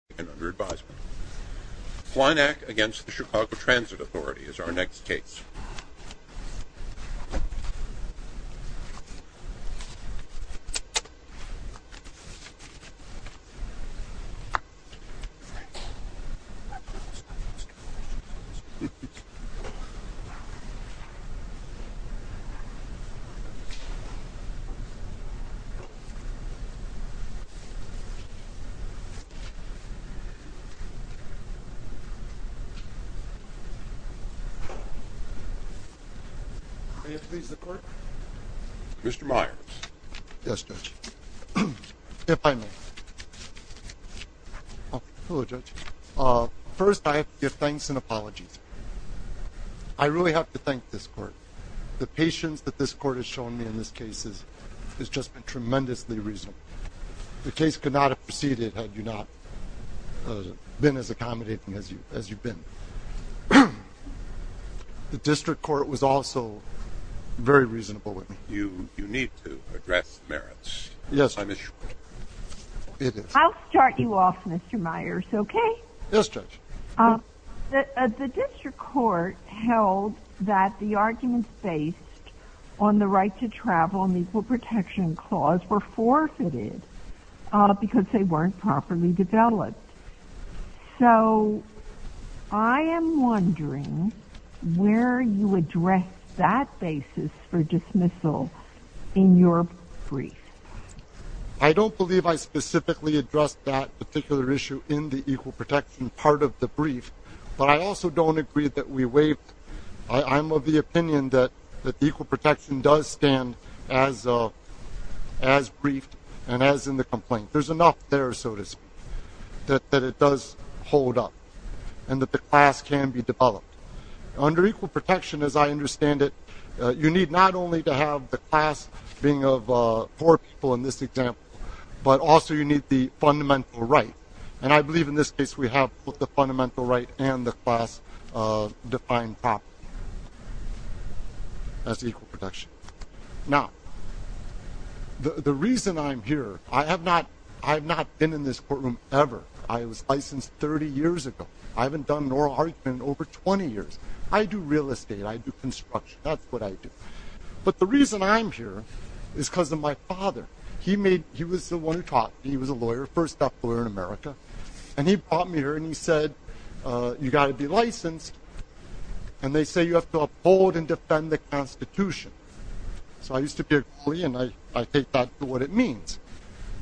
Hlinak v. CTA Hlinak v. CTA So I am wondering where you address that basis for dismissal in your brief. I don't believe I specifically addressed that particular issue in the equal protection part of the brief, but I also don't agree that we waived. I'm of the opinion that equal protection does stand as briefed and as in the complaint. There's enough there, so to speak, that it does hold up and that the class can be developed. Under equal protection, as I understand it, you need not only to have the class being of four people in this example, but also you need the fundamental right. And I believe in this case we have both the fundamental right and the class-defined property. That's equal protection. Now, the reason I'm here, I have not been in this courtroom ever. I was licensed 30 years ago. I haven't done an oral argument in over 20 years. I do real estate. I do construction. That's what I do. But the reason I'm here is because of my father. He was the one who taught me. He was a lawyer, first-deaf lawyer in America. And he brought me here and he said, you've got to be licensed. And they say you have to uphold and defend the Constitution. So I used to be a bully, and I take that for what it means.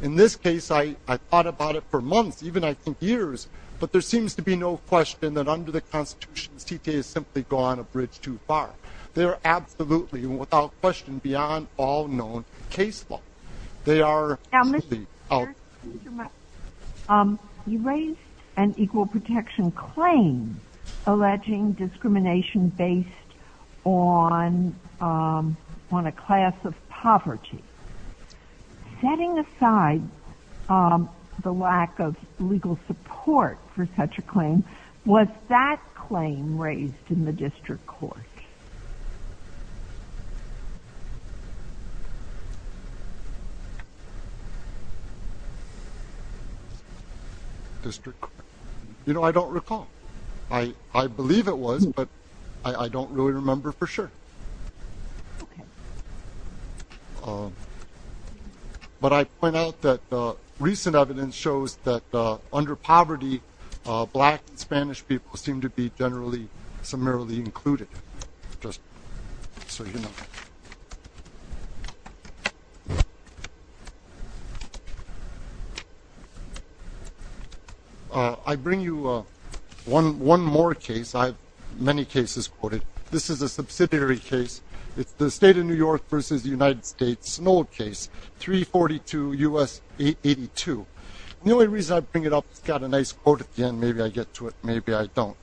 In this case, I thought about it for months, even, I think, years. But there seems to be no question that under the Constitution, CTA has simply gone a bridge too far. They are absolutely, without question, beyond all known case law. They are simply out. You raised an equal protection claim alleging discrimination based on a class of poverty. Setting aside the lack of legal support for such a claim, was that claim raised in the district court? District court. You know, I don't recall. I believe it was, but I don't really remember for sure. But I point out that recent evidence shows that under poverty, black and Spanish people seem to be generally, summarily included. Just so you know. I bring you one more case. I have many cases quoted. This is a subsidiary case. It's the state of New York versus the United States, an old case, 342 U.S. 882. The only reason I bring it up, it's got a nice quote at the end. Maybe I get to it, maybe I don't.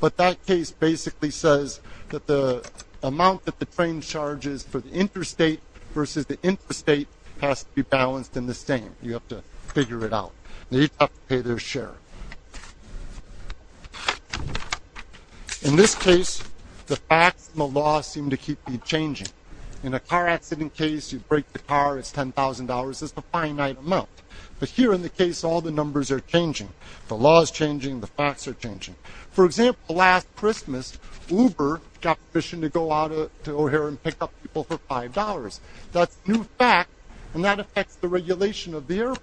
But that case basically says that the amount that the train charges for the interstate versus the interstate has to be balanced in the same. You have to figure it out. You have to pay their share. In this case, the facts and the law seem to keep changing. In a car accident case, you break the car, it's $10,000, it's a finite amount. But here in the case, all the numbers are changing. The law is changing, the facts are changing. For example, last Christmas, Uber got permission to go out to O'Hare and pick up people for $5. That's a new fact, and that affects the regulation of the airport.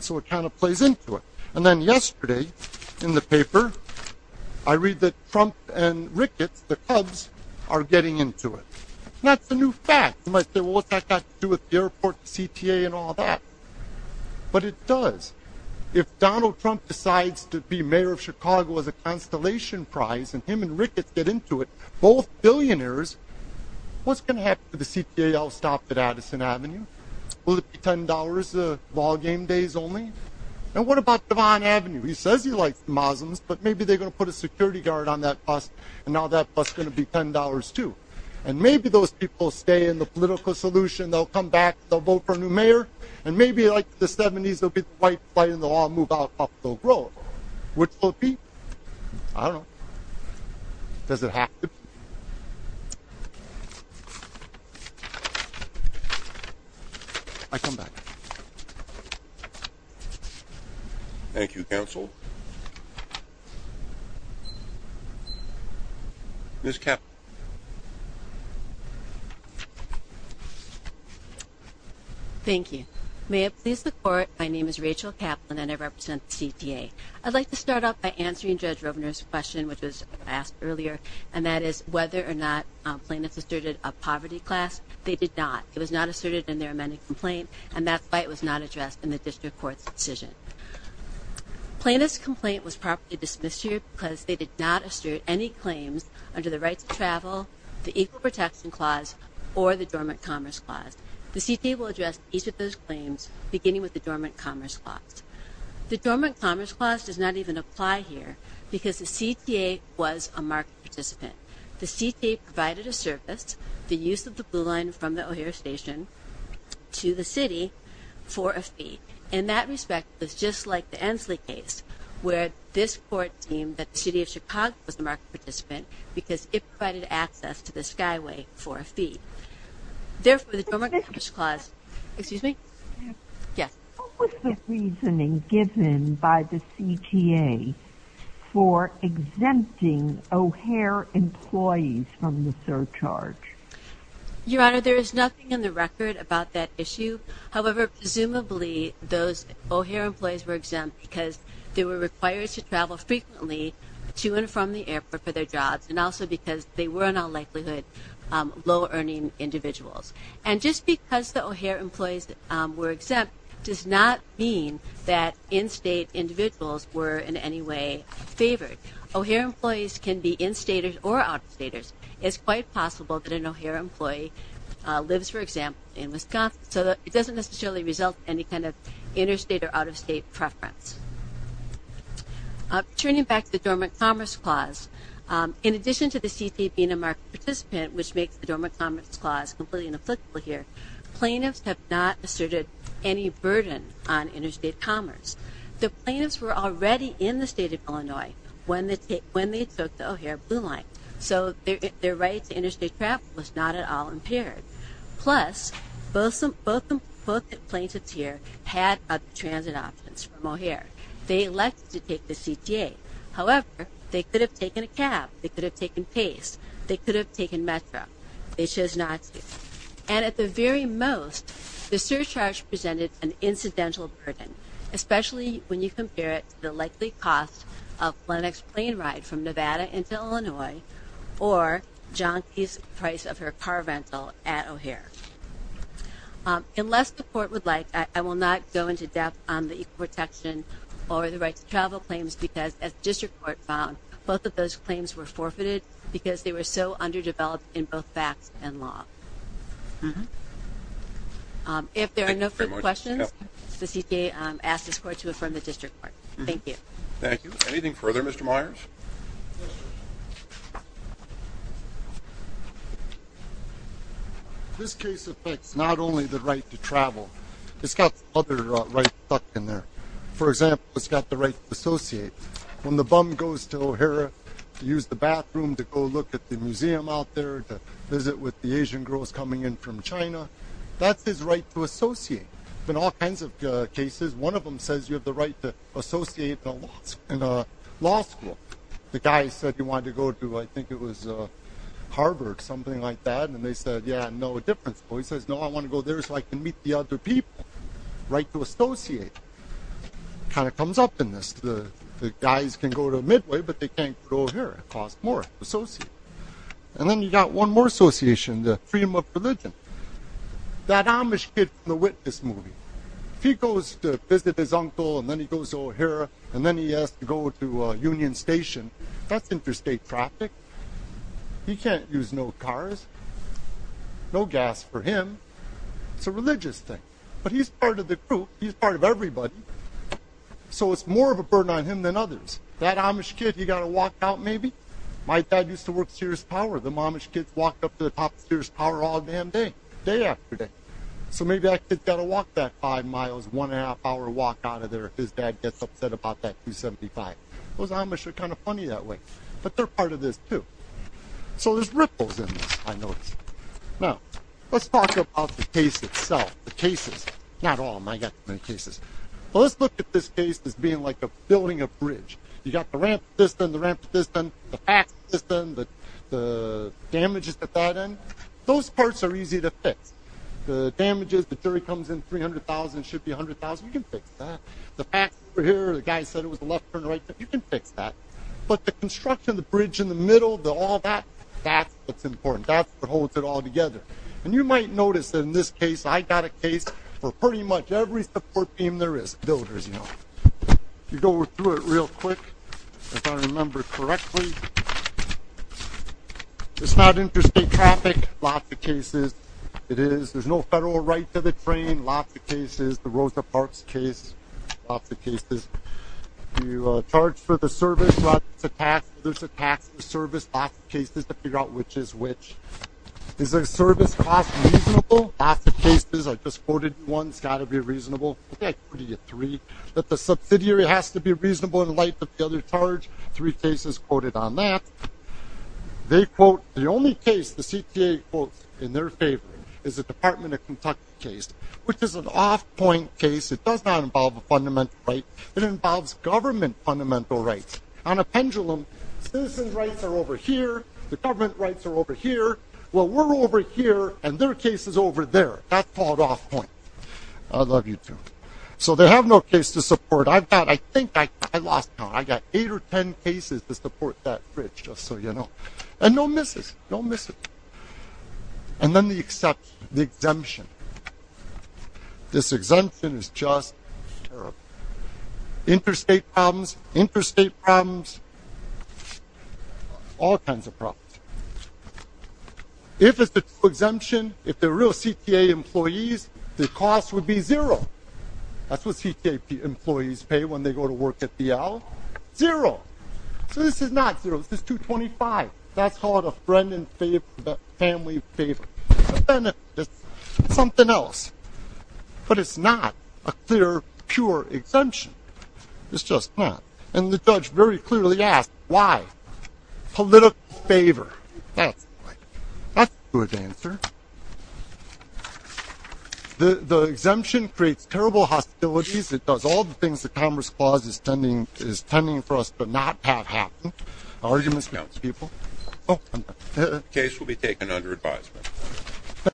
So it kind of plays into it. And then yesterday, in the paper, I read that Trump and Ricketts, the Cubs, are getting into it. That's a new fact. You might say, well, what's that got to do with the airport, the CTA and all that? But it does. If Donald Trump decides to be mayor of Chicago as a Constellation Prize, and him and Ricketts get into it, both billionaires, what's going to happen to the CTA? I'll stop at Addison Avenue. Will it be $10, ballgame days only? And what about Devon Avenue? He says he likes the Muslims, but maybe they're going to put a security guard on that bus, and now that bus is going to be $10 too. And maybe those people stay in the political solution. They'll come back, they'll vote for a new mayor. And maybe, like the 70s, there'll be the white flag and they'll all move up the road. Which will it be? I don't know. Does it have to be? I come back. Thank you, counsel. Ms. Kaplan. Thank you. May it please the Court, my name is Rachel Kaplan and I represent the CTA. I'd like to start off by answering Judge Rovner's question, which was asked earlier. And that is whether or not plaintiffs asserted a poverty class. They did not. It was not asserted in their amended complaint. And that fight was not addressed in the district court's decision. Plaintiff's complaint was properly dismissed here because they did not assert any claims under the rights of traffic travel, the Equal Protection Clause, or the Dormant Commerce Clause. The CTA will address each of those claims, beginning with the Dormant Commerce Clause. The Dormant Commerce Clause does not even apply here because the CTA was a market participant. The CTA provided a service, the use of the Blue Line from the O'Hare Station to the city for a fee. In that respect, it was just like the Ensley case, where this Court deemed that the city of Chicago was a market participant because it provided access to the Skyway for a fee. Therefore, the Dormant Commerce Clause – excuse me? Yes. What was the reasoning given by the CTA for exempting O'Hare employees from the surcharge? Your Honor, there is nothing in the record about that issue. However, presumably, those O'Hare employees were exempt because they were required to travel frequently to and from the airport for their jobs, and also because they were, in all likelihood, low-earning individuals. And just because the O'Hare employees were exempt does not mean that in-state individuals were in any way favored. O'Hare employees can be in-staters or out-of-staters. It's quite possible that an O'Hare employee lives, for example, in Wisconsin. So it doesn't necessarily result in any kind of interstate or out-of-state preference. Turning back to the Dormant Commerce Clause, in addition to the CTA being a market participant, which makes the Dormant Commerce Clause completely ineffective here, plaintiffs have not asserted any burden on interstate commerce. The plaintiffs were already in the state of Illinois when they took the O'Hare Blue Line, so their right to interstate travel was not at all impaired. Plus, both the plaintiffs here had other transit options for O'Hare. They elected to take the CTA. However, they could have taken a cab. They could have taken Pace. They could have taken Metro. They chose not to. And at the very most, the surcharge presented an incidental burden, especially when you compare it to the likely cost of Lenox's plane ride from Nevada into Illinois or John Pace's price of her car rental at O'Hare. Unless the Court would like, I will not go into depth on the equal protection or the right to travel claims because, as the District Court found, both of those claims were forfeited because they were so underdeveloped in both facts and law. If there are no further questions, the CTA asks this Court to affirm the District Court. Thank you. Thank you. Anything further, Mr. Myers? This case affects not only the right to travel. It's got other rights stuck in there. For example, it's got the right to associate. When the bum goes to O'Hare to use the bathroom, to go look at the museum out there, to visit with the Asian girls coming in from China, that's his right to associate. There have been all kinds of cases. One of them says you have the right to associate in a law school. The guy said he wanted to go to, I think it was Harvard, something like that, and they said, yeah, no difference. Well, he says, no, I want to go there so I can meet the other people. Right to associate. It kind of comes up in this. The guys can go to Midway, but they can't go here. It costs more to associate. And then you've got one more association, the freedom of religion. That Amish kid from the Witness movie, if he goes to visit his uncle, and then he goes to O'Hare, and then he has to go to Union Station, that's interstate traffic. He can't use no cars, no gas for him. It's a religious thing. But he's part of the group. He's part of everybody. So it's more of a burden on him than others. That Amish kid, he got to walk out maybe. My dad used to work at Sears Power. The Amish kids walked up to the top of Sears Power all damn day, day after day. So maybe that kid's got to walk that five miles, one-and-a-half-hour walk out of there if his dad gets upset about that 275. Those Amish are kind of funny that way. But they're part of this too. So there's ripples in this, I noticed. Now, let's talk about the case itself, the cases. Not all of them. I've got too many cases. Let's look at this case as being like a building, a bridge. You've got the ramp system, the ramp system, the pass system, the damages at that end. Those parts are easy to fix. The damages, the jury comes in, $300,000, should be $100,000. You can fix that. The pass over here, the guy said it was a left-turn right-turn. You can fix that. But the construction, the bridge in the middle, all that, that's what's important. That's what holds it all together. And you might notice that in this case, I got a case for pretty much every support team there is. Builders, you know. If you go through it real quick, if I remember correctly, it's not interstate traffic. Lots of cases it is. There's no federal right to the train, lots of cases. The Rosa Parks case, lots of cases. You charge for the service, lots of taxes. There's a tax for service, lots of cases to figure out which is which. Is the service cost reasonable? Lots of cases. I just quoted one. It's got to be reasonable. But the subsidiary has to be reasonable in light of the other charge. Three cases quoted on that. They quote the only case the CTA quotes in their favor is the Department of Kentucky case, which is an off-point case. It does not involve a fundamental right. It involves government fundamental rights. On a pendulum, citizens' rights are over here. The government rights are over here. Well, we're over here, and their case is over there. That's called off-point. I love you, too. So they have no case to support. I've got, I think, I lost count. I've got eight or ten cases to support that bridge, just so you know. And no misses. No misses. And then the exemption. This exemption is just terrible. Interstate problems, interstate problems, all kinds of problems. If it's the true exemption, if they're real CTA employees, the cost would be zero. That's what CTA employees pay when they go to work at DL. Zero. So this is not zero. This is 225. That's called a friend and family favor. But then it's something else. But it's not a clear, pure exemption. It's just not. And the judge very clearly asked why. Political favor. That's a good answer. The exemption creates terrible hostilities. It does all the things the Commerce Clause is tending for us to not have happen. Arguments counts, people. The case will be taken under advisement.